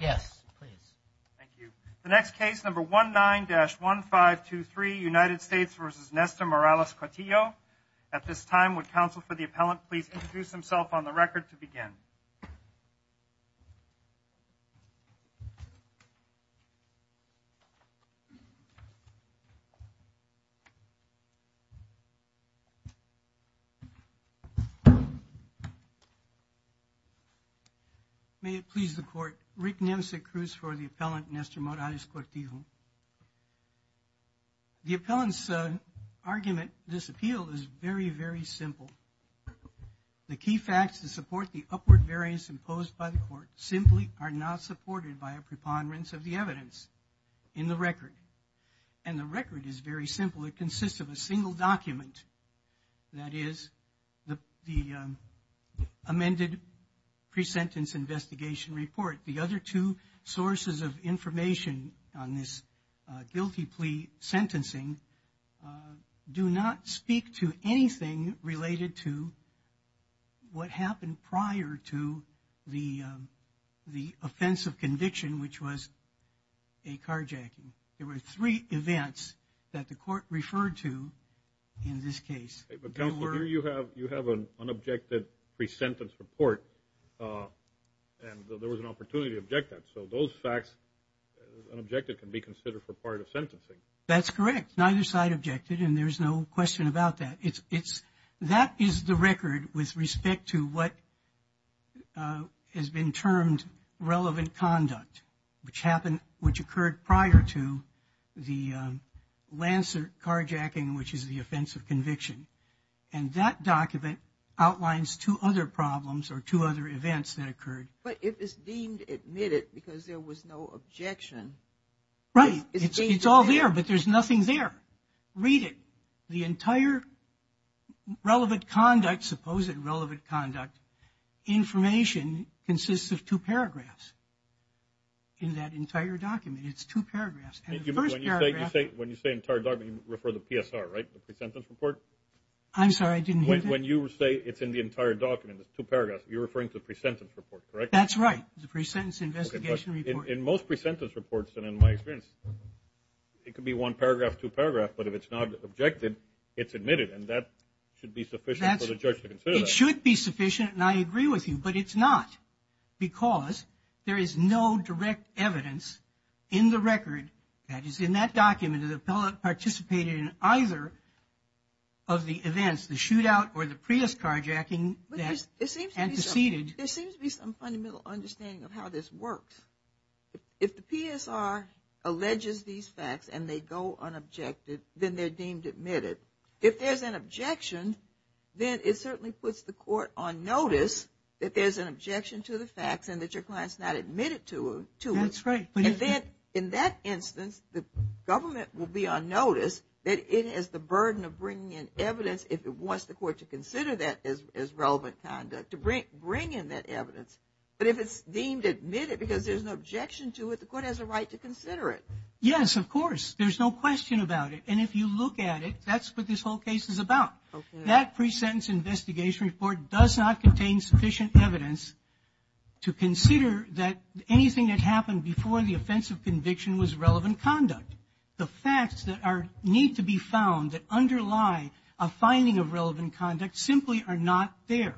Yes, please. Thank you. The next case, number 19-1523, United States v. Nesta-Morales-Cortijo. At this time, would counsel for the appellant please introduce himself on the record to begin. May it please the court. Rick Nemcek Cruz for the appellant, Nesta-Morales-Cortijo. The appellant's argument, this appeal, is very, very simple. The key facts to support the upward variance imposed by the court simply are not supported by a preponderance of the evidence in the record. And the record is very simple. It consists of a single document, that is, the amended pre-sentence investigation report. The other two sources of information on this guilty plea sentencing do not speak to anything related to what happened prior to the offense of conviction, which was a carjacking. There were three events that the court referred to in this case. But counsel, here you have an unobjected pre-sentence report, and there was an opportunity to object that. So those facts, unobjected, can be considered for part of sentencing. That's correct. Neither side objected, and there's no question about that. That is the record with respect to what has been termed relevant conduct, which occurred prior to the Lancer carjacking, which is the offense of conviction. And that document outlines two other problems or two other events that occurred. But it is deemed admitted because there was no objection. Right. It's all there, but there's nothing there. Read it. The entire relevant conduct, supposed relevant conduct, information consists of two paragraphs. In that entire document, it's two paragraphs. When you say entire document, you refer to the PSR, right? The pre-sentence report? I'm sorry, I didn't hear that. When you say it's in the entire document, it's two paragraphs, you're referring to the pre-sentence report, correct? That's right. The pre-sentence investigation report. In most pre-sentence reports, and in my experience, it could be one paragraph, two paragraphs, but if it's not objected, it's admitted, and that should be sufficient for the judge to consider that. It should be sufficient, and I agree with you, but it's not because there is no direct evidence in the record that is in that document that the appellate participated in either of the events, the shootout or the Prius carjacking. There seems to be some fundamental understanding of how this works. If the PSR alleges these facts and they go unobjected, then they're deemed admitted. If there's an objection, then it certainly puts the court on notice that there's an objection to the facts and that your client's not admitted to it. That's right. In that instance, the government will be on notice that it has the burden of bringing in evidence if it wants the court to consider that as relevant conduct, to bring in that evidence. But if it's deemed admitted because there's an objection to it, the court has a right to consider it. Yes, of course. There's no question about it, and if you look at it, that's what this whole case is about. That pre-sentence investigation report does not contain sufficient evidence to consider that anything that happened before the offensive conviction was relevant conduct. The facts that need to be found that underlie a finding of relevant conduct simply are not there.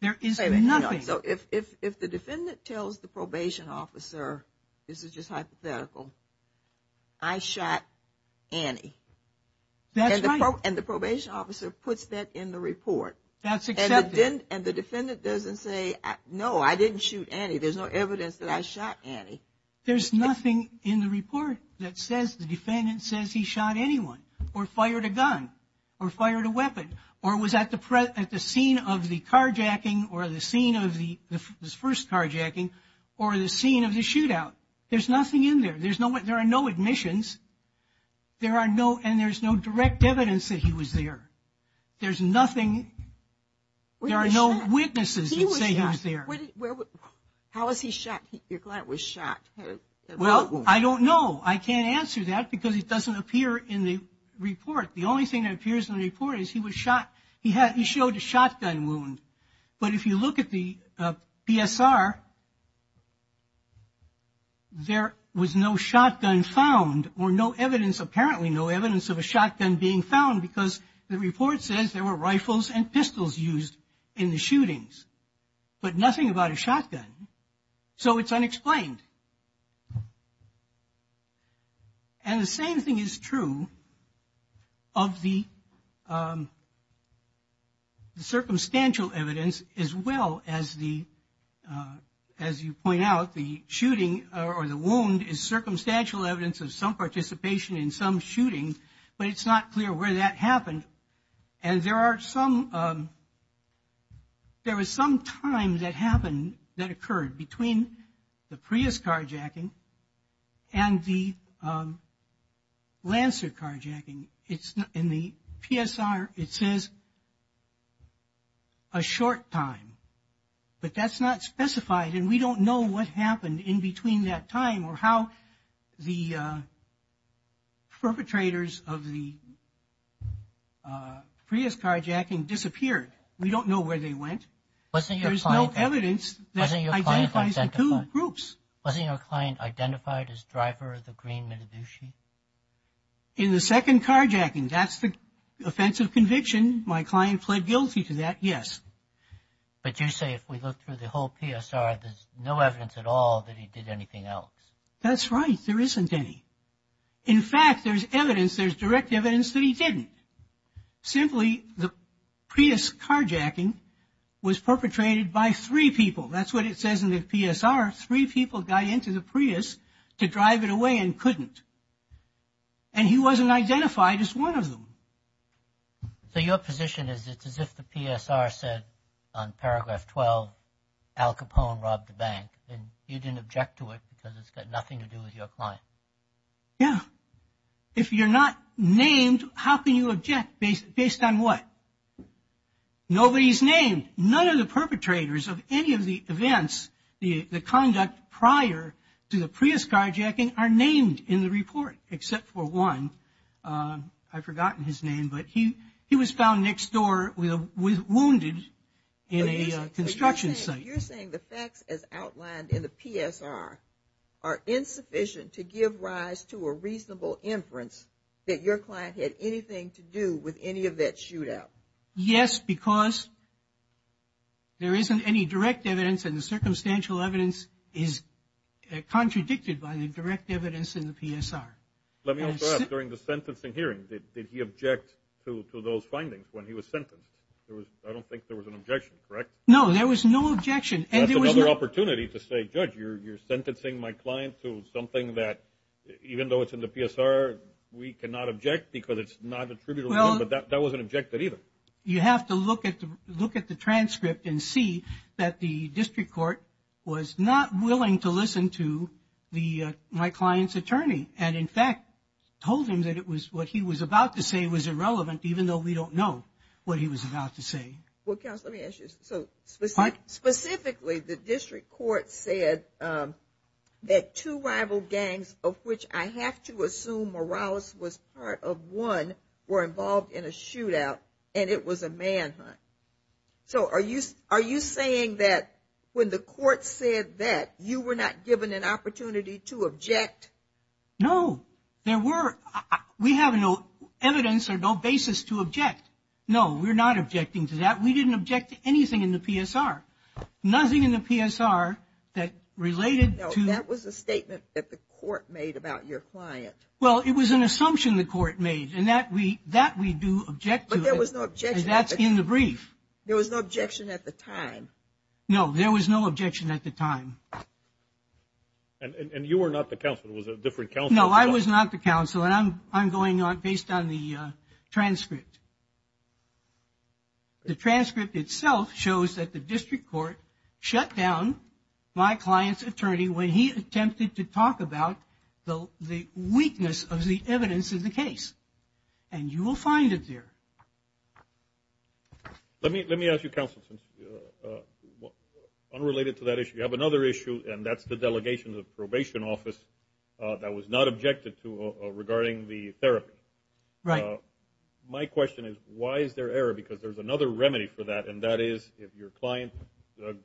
There is nothing. So if the defendant tells the probation officer, this is just hypothetical, I shot Annie. That's right. And the probation officer puts that in the report. That's accepted. And the defendant doesn't say, no, I didn't shoot Annie. There's no evidence that I shot Annie. There's nothing in the report that says the defendant says he shot anyone or fired a gun or fired a weapon or was at the scene of the carjacking or the scene of the first carjacking or the scene of the shootout. There's nothing in there. There are no admissions, and there's no direct evidence that he was there. There's nothing. There are no witnesses that say he was there. How was he shot? Your client was shot. Well, I don't know. I can't answer that because it doesn't appear in the report. The only thing that appears in the report is he was shot. He showed a shotgun wound. But if you look at the PSR, there was no shotgun found or no evidence, apparently no evidence of a shotgun being found because the report says there were rifles and pistols used in the shootings, but nothing about a shotgun. So it's unexplained. And the same thing is true of the circumstantial evidence as well as the, as you point out, the shooting or the wound is circumstantial evidence of some participation in some shootings, but it's not clear where that happened. And there are some, there was some time that happened, that occurred between the Prius carjacking and the Lancer carjacking. In the PSR it says a short time, but that's not specified, and we don't know what happened in between that time or how the perpetrators of the Prius carjacking disappeared. We don't know where they went. There's no evidence that identifies the two groups. Wasn't your client identified as driver of the green Mitadushi? In the second carjacking, that's the offensive conviction. My client fled guilty to that, yes. But you say if we look through the whole PSR, there's no evidence at all that he did anything else. That's right. There isn't any. In fact, there's evidence, there's direct evidence that he didn't. Simply the Prius carjacking was perpetrated by three people. That's what it says in the PSR. Three people got into the Prius to drive it away and couldn't. And he wasn't identified as one of them. So your position is it's as if the PSR said on paragraph 12, Al Capone robbed a bank and you didn't object to it because it's got nothing to do with your client. Yeah. If you're not named, how can you object based on what? Nobody's named. None of the perpetrators of any of the events, the conduct prior to the Prius carjacking, are named in the report except for one. I've forgotten his name, but he was found next door wounded in a construction site. You're saying the facts as outlined in the PSR are insufficient to give rise to a reasonable inference that your client had anything to do with any of that shootout. Yes, because there isn't any direct evidence and the circumstantial evidence is contradicted by the direct evidence in the PSR. Let me also ask, during the sentencing hearing, did he object to those findings when he was sentenced? I don't think there was an objection, correct? No, there was no objection. That's another opportunity to say, Judge, you're sentencing my client to something that, even though it's in the PSR, we cannot object because it's not attributable. But that wasn't objected either. You have to look at the transcript and see that the district court was not willing to listen to my client's attorney. And, in fact, told him that what he was about to say was irrelevant, even though we don't know what he was about to say. Well, counsel, let me ask you this. So, specifically, the district court said that two rival gangs, of which I have to assume Morales was part of one, were involved in a shootout and it was a manhunt. So are you saying that when the court said that, you were not given an opportunity to object? No. There were. We have no evidence or no basis to object. No, we're not objecting to that. We didn't object to anything in the PSR. Nothing in the PSR that related to... No, that was a statement that the court made about your client. Well, it was an assumption the court made, and that we do object to. But there was no objection. And that's in the brief. There was no objection at the time. No, there was no objection at the time. And you were not the counsel. It was a different counsel. No, I was not the counsel, and I'm going on based on the transcript. to talk about the weakness of the evidence in the case. And you will find it there. Let me ask you, counsel, since unrelated to that issue, you have another issue, and that's the delegation of the probation office that was not objected to regarding the therapy. Right. My question is, why is there error? Because there's another remedy for that, and that is if your client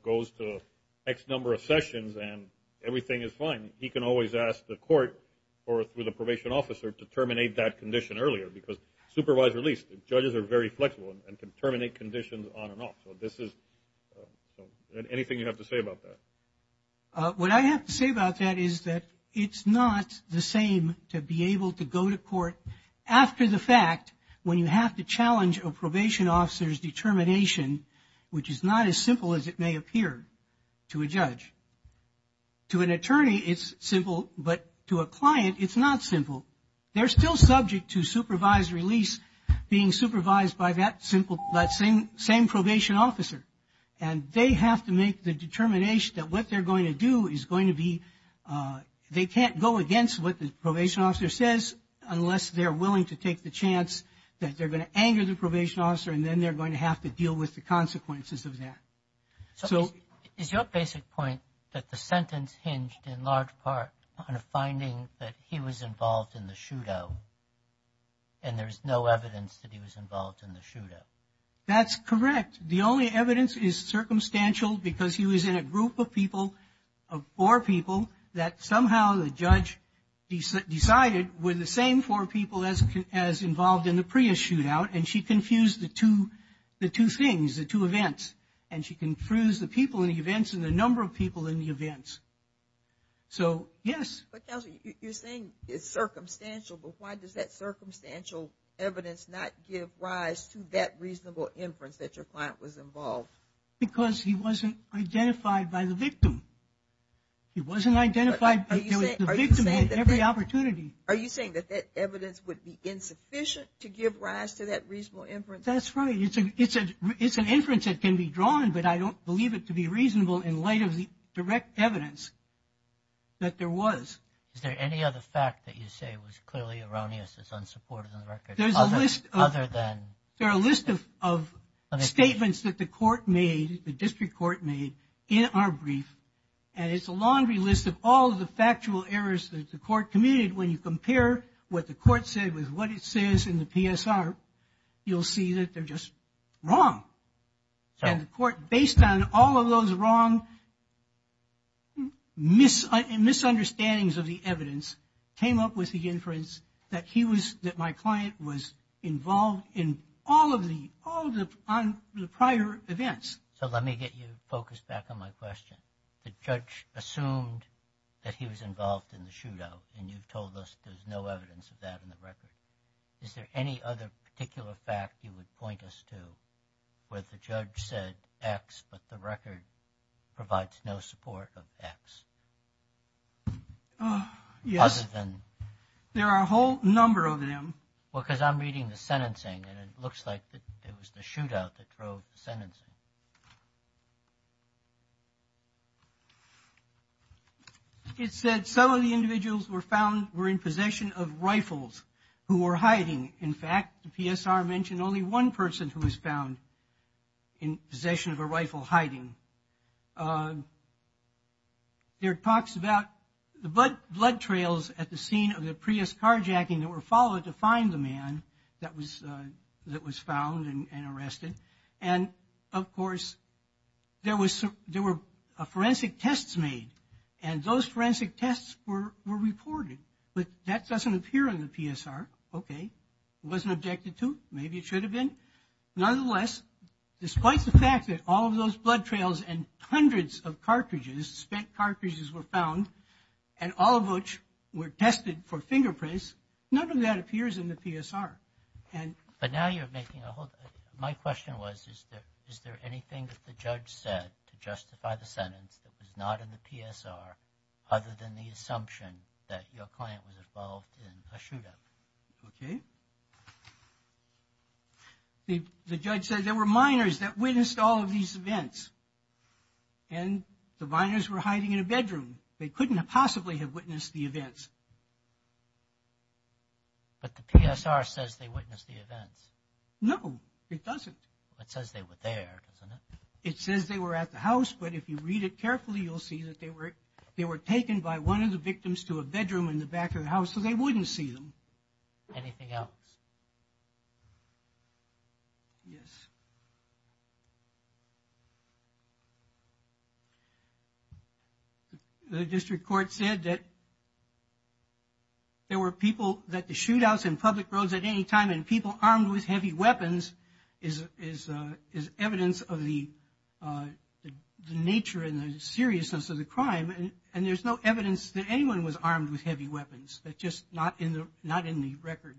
goes to X number of sessions and everything is fine, he can always ask the court or through the probation officer to terminate that condition earlier, because supervised release, judges are very flexible and can terminate conditions on and off. Anything you have to say about that? What I have to say about that is that it's not the same to be able to go to court after the fact when you have to challenge a probation officer's determination, which is not as simple as it may appear to a judge. To an attorney, it's simple, but to a client, it's not simple. They're still subject to supervised release being supervised by that same probation officer, and they have to make the determination that what they're going to do is going to be they can't go against what the probation officer says unless they're willing to take the chance that they're going to anger the probation officer and then they're going to have to deal with the consequences of that. Is your basic point that the sentence hinged in large part on a finding that he was involved in the shootout and there's no evidence that he was involved in the shootout? That's correct. The only evidence is circumstantial because he was in a group of people, of four people, that somehow the judge decided were the same four people as involved in the Prius shootout, and she confused the two things, the two events, and she confused the people in the events and the number of people in the events. So, yes. But, Counselor, you're saying it's circumstantial, but why does that circumstantial evidence not give rise to that reasonable inference that your client was involved? Because he wasn't identified by the victim. He wasn't identified. The victim had every opportunity. Are you saying that that evidence would be insufficient to give rise to that reasonable inference? That's right. It's an inference that can be drawn, but I don't believe it to be reasonable in light of the direct evidence that there was. Is there any other fact that you say was clearly erroneous that's unsupported in the record? There's a list of statements that the court made, the district court made, in our brief, and it's a laundry list of all the factual errors that the court committed. When you compare what the court said with what it says in the PSR, you'll see that they're just wrong. And the court, based on all of those wrong misunderstandings of the evidence, came up with the inference that my client was involved in all of the prior events. So let me get you focused back on my question. The judge assumed that he was involved in the shootout, and you've told us there's no evidence of that in the record. Is there any other particular fact you would point us to where the judge said X, but the record provides no support of X? Yes. There are a whole number of them. Well, because I'm reading the sentencing, and it looks like it was the shootout that drove the sentencing. It said some of the individuals were found were in possession of rifles who were hiding. In fact, the PSR mentioned only one person who was found in possession of a rifle hiding. There are talks about the blood trails at the scene of the Prius carjacking that were followed to find the man that was found and arrested. And, of course, there were forensic tests made, and those forensic tests were reported. But that doesn't appear in the PSR. Okay. It wasn't objected to. Maybe it should have been. Nonetheless, despite the fact that all of those blood trails and hundreds of cartridges, spent cartridges were found, and all of which were tested for fingerprints, none of that appears in the PSR. But now you're making a whole – my question was, is there anything that the judge said to justify the sentence that was not in the PSR other than the assumption that your client was involved in a shootout? Okay. The judge said there were minors that witnessed all of these events, and the minors were hiding in a bedroom. They couldn't have possibly have witnessed the events. But the PSR says they witnessed the events. No, it doesn't. It says they were there, doesn't it? It says they were at the house, but if you read it carefully, you'll see that they were taken by one of the victims to a bedroom in the back of the house, so they wouldn't see them. Anything else? Yes. The district court said that there were people – that the shootouts and public roads at any time and people armed with heavy weapons is evidence of the nature and the seriousness of the crime, and there's no evidence that anyone was armed with heavy weapons. It's just not in the record.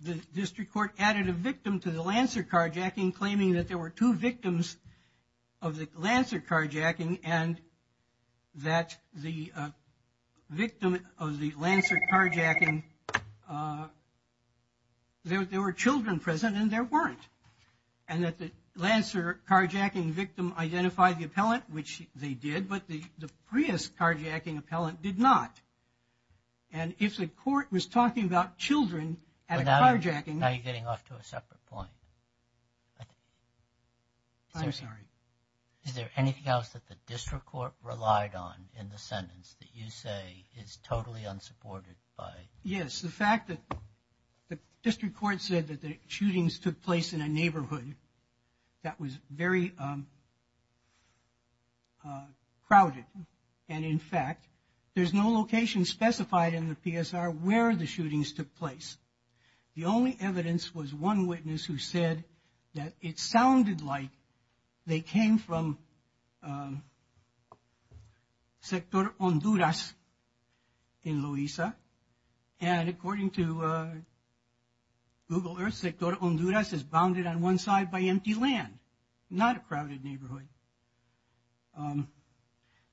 The district court added a victim to the Lancer carjacking, claiming that there were two victims of the Lancer carjacking and that the victim of the Lancer carjacking – there were children present and there weren't, and that the Lancer carjacking victim identified the appellant, which they did, but the Prius carjacking appellant did not. And if the court was talking about children at a carjacking – Now you're getting off to a separate point. I'm sorry. Is there anything else that the district court relied on in the sentence that you say is totally unsupported by – Yes, the fact that the district court said that the shootings took place in a neighborhood that was very crowded, and in fact, there's no location specified in the PSR where the shootings took place. The only evidence was one witness who said that it sounded like they came from Sector Honduras in Loiza, and according to Google Earth, Sector Honduras is bounded on one side by empty land, not a crowded neighborhood.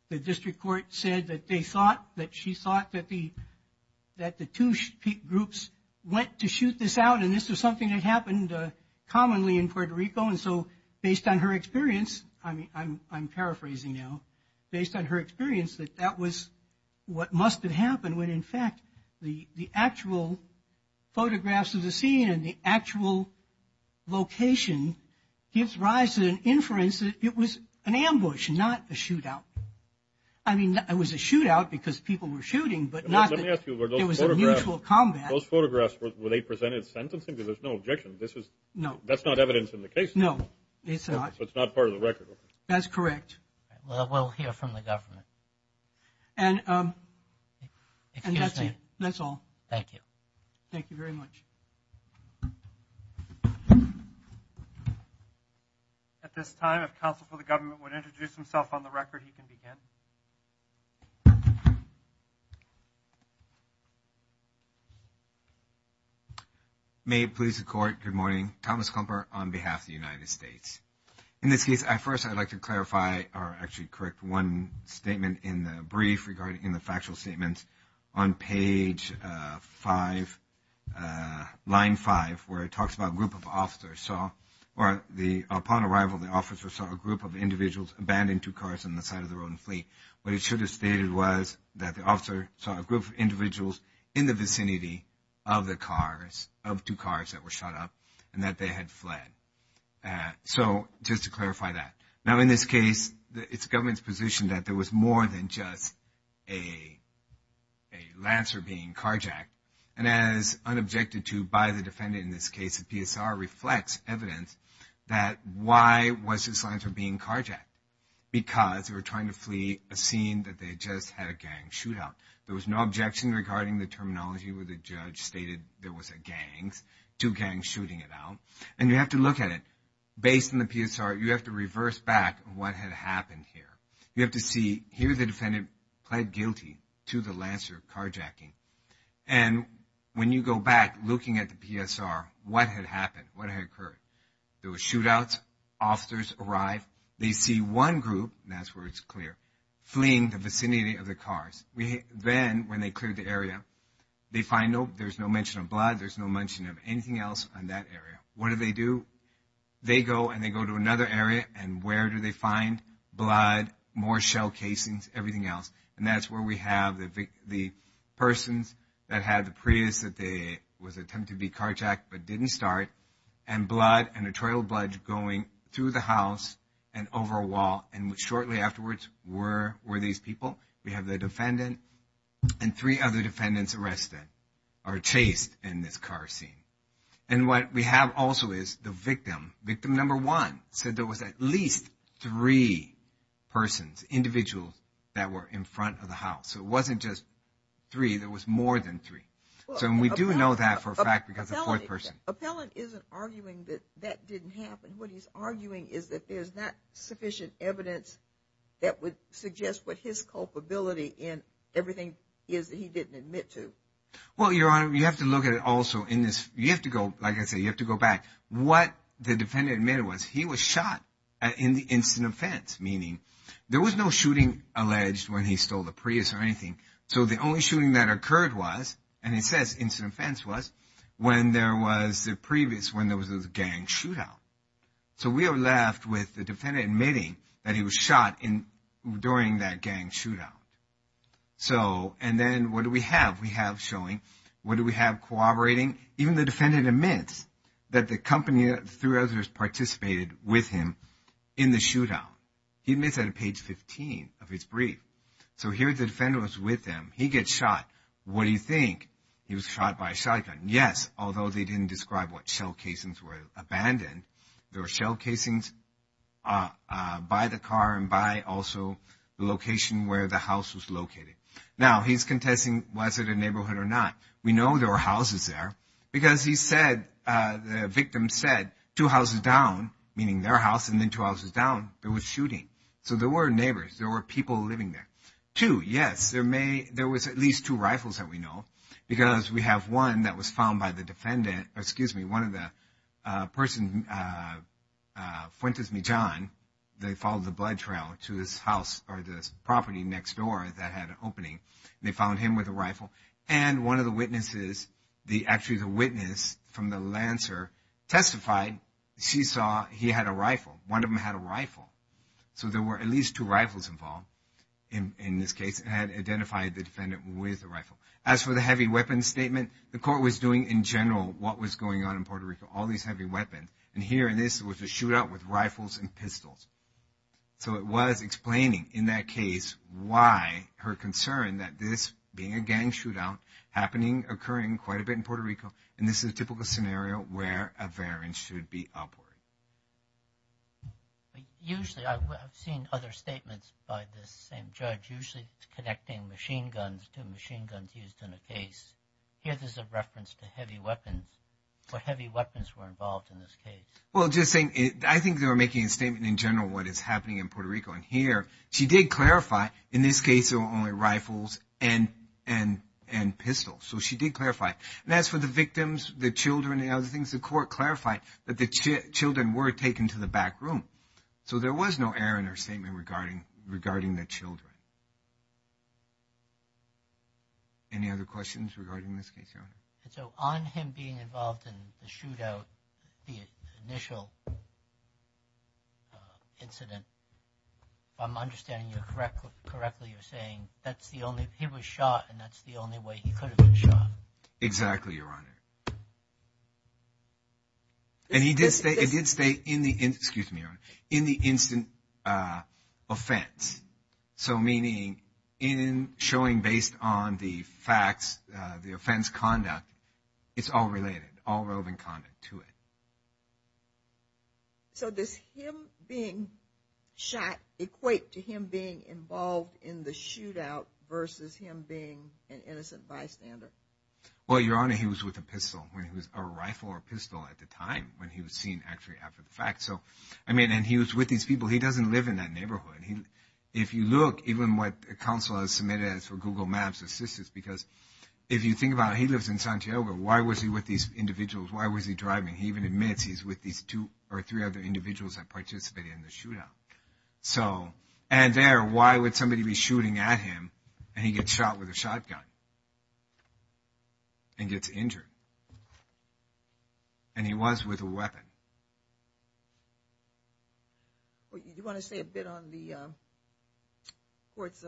The district court said that she thought that the two groups went to shoot this out, and this was something that happened commonly in Puerto Rico, and so based on her experience – I'm paraphrasing now – based on her experience, that that was what must have happened when in fact the actual photographs of the scene and the actual location gives rise to an inference that it was an ambush, not a shootout. I mean, it was a shootout because people were shooting, but not that it was a mutual combat. Those photographs, were they presented sentencing? Because there's no objection. No. That's not evidence in the case. No, it's not. It's not part of the record. That's correct. Well, we'll hear from the government. And that's it. That's all. Thank you. Thank you very much. At this time, if counsel for the government would introduce himself on the record, he can begin. May it please the Court. Good morning. Thomas Klumper on behalf of the United States. In this case, first I'd like to clarify or actually correct one statement in the brief regarding the factual statements. On page five, line five, where it talks about a group of officers saw, or upon arrival, the officers saw a group of individuals abandon two cars on the side of the road and flee. What it should have stated was that the officer saw a group of individuals in the vicinity of the cars, of two cars that were shot up, and that they had fled. So, just to clarify that. Now, in this case, it's government's position that there was more than just a Lancer being carjacked. And as unobjected to by the defendant in this case, the PSR reflects evidence that why was this Lancer being carjacked? Because they were trying to flee a scene that they just had a gang shootout. There was no objection regarding the terminology where the judge stated there was a gang, two gangs shooting it out. And you have to look at it. Based on the PSR, you have to reverse back what had happened here. You have to see here the defendant pled guilty to the Lancer carjacking. And when you go back looking at the PSR, what had happened, what had occurred? There were shootouts. Officers arrived. They see one group, and that's where it's clear, fleeing the vicinity of the cars. Then, when they cleared the area, they find there's no mention of blood. There's no mention of anything else on that area. What do they do? They go, and they go to another area, and where do they find blood, more shell casings, everything else? And that's where we have the persons that had the Prius that was attempted to be carjacked but didn't start, and blood and a trail of blood going through the house and over a wall. And shortly afterwards, where were these people? We have the defendant and three other defendants arrested or chased in this car scene. And what we have also is the victim. Victim number one said there was at least three persons, individuals, that were in front of the house. So it wasn't just three. There was more than three. So we do know that for a fact because of the fourth person. Appellant isn't arguing that that didn't happen. What he's arguing is that there's not sufficient evidence that would suggest what his culpability in everything is that he didn't admit to. Well, Your Honor, you have to look at it also in this. You have to go, like I said, you have to go back. What the defendant admitted was he was shot in the instant offense, meaning there was no shooting alleged when he stole the Prius or anything. So the only shooting that occurred was, and it says instant offense was, when there was the previous, when there was a gang shootout. So we are left with the defendant admitting that he was shot during that gang shootout. So, and then what do we have? We have showing. What do we have? Cooperating. Even the defendant admits that the company, through others, participated with him in the shootout. He admits that on page 15 of his brief. So here the defendant was with him. He gets shot. What do you think? He was shot by a shotgun. Yes, although they didn't describe what shell casings were abandoned. There were shell casings by the car and by also the location where the house was located. Now he's contesting, was it a neighborhood or not? We know there were houses there because he said, the victim said, two houses down, meaning their house, and then two houses down, there was shooting. So there were neighbors. There were people living there. Two, yes, there was at least two rifles that we know because we have one that was found by the defendant. One of the persons, Fuentes Mijan, they followed the blood trail to his house or the property next door that had an opening. They found him with a rifle. And one of the witnesses, actually the witness from the Lancer, testified she saw he had a rifle. One of them had a rifle. So there were at least two rifles involved in this case and had identified the defendant with a rifle. As for the heavy weapons statement, the court was doing in general what was going on in Puerto Rico, all these heavy weapons. And here in this was a shootout with rifles and pistols. So it was explaining in that case why her concern that this being a gang shootout happening, occurring quite a bit in Puerto Rico, and this is a typical scenario where a variance should be upward. Usually, I've seen other statements by the same judge, usually connecting machine guns to machine guns used in a case. Here there's a reference to heavy weapons, what heavy weapons were involved in this case. Well, just saying, I think they were making a statement in general what is happening in Puerto Rico. And here she did clarify in this case there were only rifles and pistols. So she did clarify. And as for the victims, the children, and other things, the court clarified that the children were taken to the back room. So there was no error in her statement regarding the children. Any other questions regarding this case, Your Honor? So on him being involved in the shootout, the initial incident, if I'm understanding correctly, you're saying that's the only – he was shot and that's the only way he could have been shot. Exactly, Your Honor. And he did stay – it did stay in the – excuse me, Your Honor – in the instant offense. So meaning in showing based on the facts, the offense conduct, it's all related, all relevant conduct to it. So does him being shot equate to him being involved in the shootout versus him being an innocent bystander? Well, Your Honor, he was with a pistol. It was a rifle or a pistol at the time when he was seen actually after the fact. So, I mean, and he was with these people. He doesn't live in that neighborhood. If you look, even what counsel has submitted for Google Maps assistance, because if you think about it, he lives in Santiago. Why was he with these individuals? Why was he driving? He even admits he's with these two or three other individuals that participated in the shootout. So – and there, why would somebody be shooting at him and he gets shot with a shotgun and gets injured? And he was with a weapon. Do you want to say a bit on the court's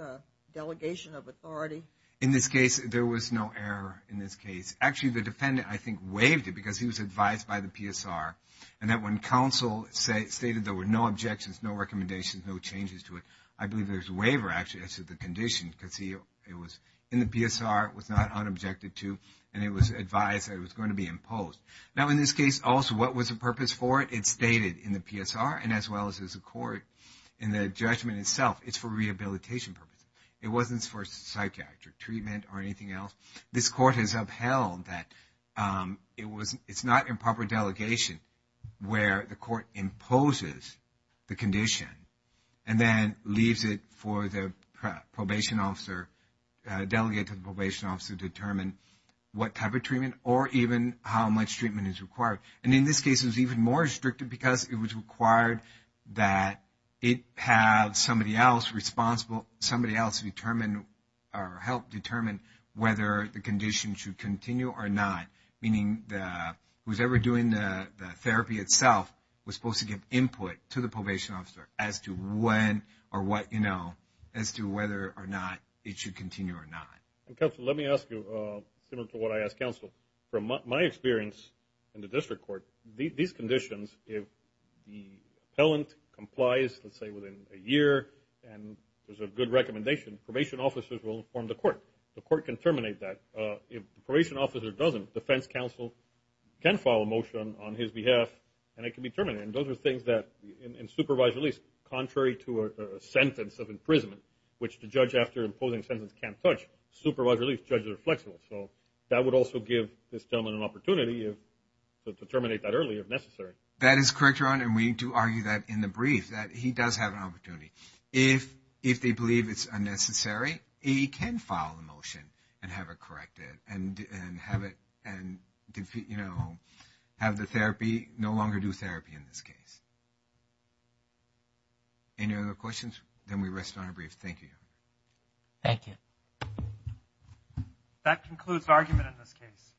delegation of authority? In this case, there was no error in this case. Actually, the defendant, I think, waived it because he was advised by the PSR, and that when counsel stated there were no objections, no recommendations, no changes to it, I believe there's a waiver actually as to the condition because he was in the PSR, was not unobjected to, and it was advised that it was going to be imposed. Now, in this case, also, what was the purpose for it? It's stated in the PSR and as well as the court in the judgment itself, it's for rehabilitation purposes. It wasn't for psychiatric treatment or anything else. This court has upheld that it's not improper delegation where the court imposes the condition and then leaves it for the probation officer, delegate to the probation officer, to determine what type of treatment or even how much treatment is required. And in this case, it was even more restrictive because it was required that it have somebody else responsible, somebody else determine or help determine whether the condition should continue or not, meaning whoever is doing the therapy itself was supposed to give input to the probation officer as to when or what, you know, as to whether or not it should continue or not. Counsel, let me ask you similar to what I asked counsel. From my experience in the district court, these conditions, if the appellant complies, let's say, within a year and there's a good recommendation, probation officers will inform the court. The court can terminate that. If the probation officer doesn't, defense counsel can file a motion on his behalf and it can be terminated. And those are things that in supervised release, contrary to a sentence of imprisonment, which the judge after imposing a sentence can't touch, supervised release judges are flexible. So that would also give this gentleman an opportunity to terminate that early if necessary. That is correct, Ron, and we do argue that in the brief that he does have an opportunity. If they believe it's unnecessary, he can file a motion and have it corrected and have it, you know, have the therapy, no longer do therapy in this case. Any other questions? Then we rest on our brief. Thank you. Thank you. That concludes the argument in this case.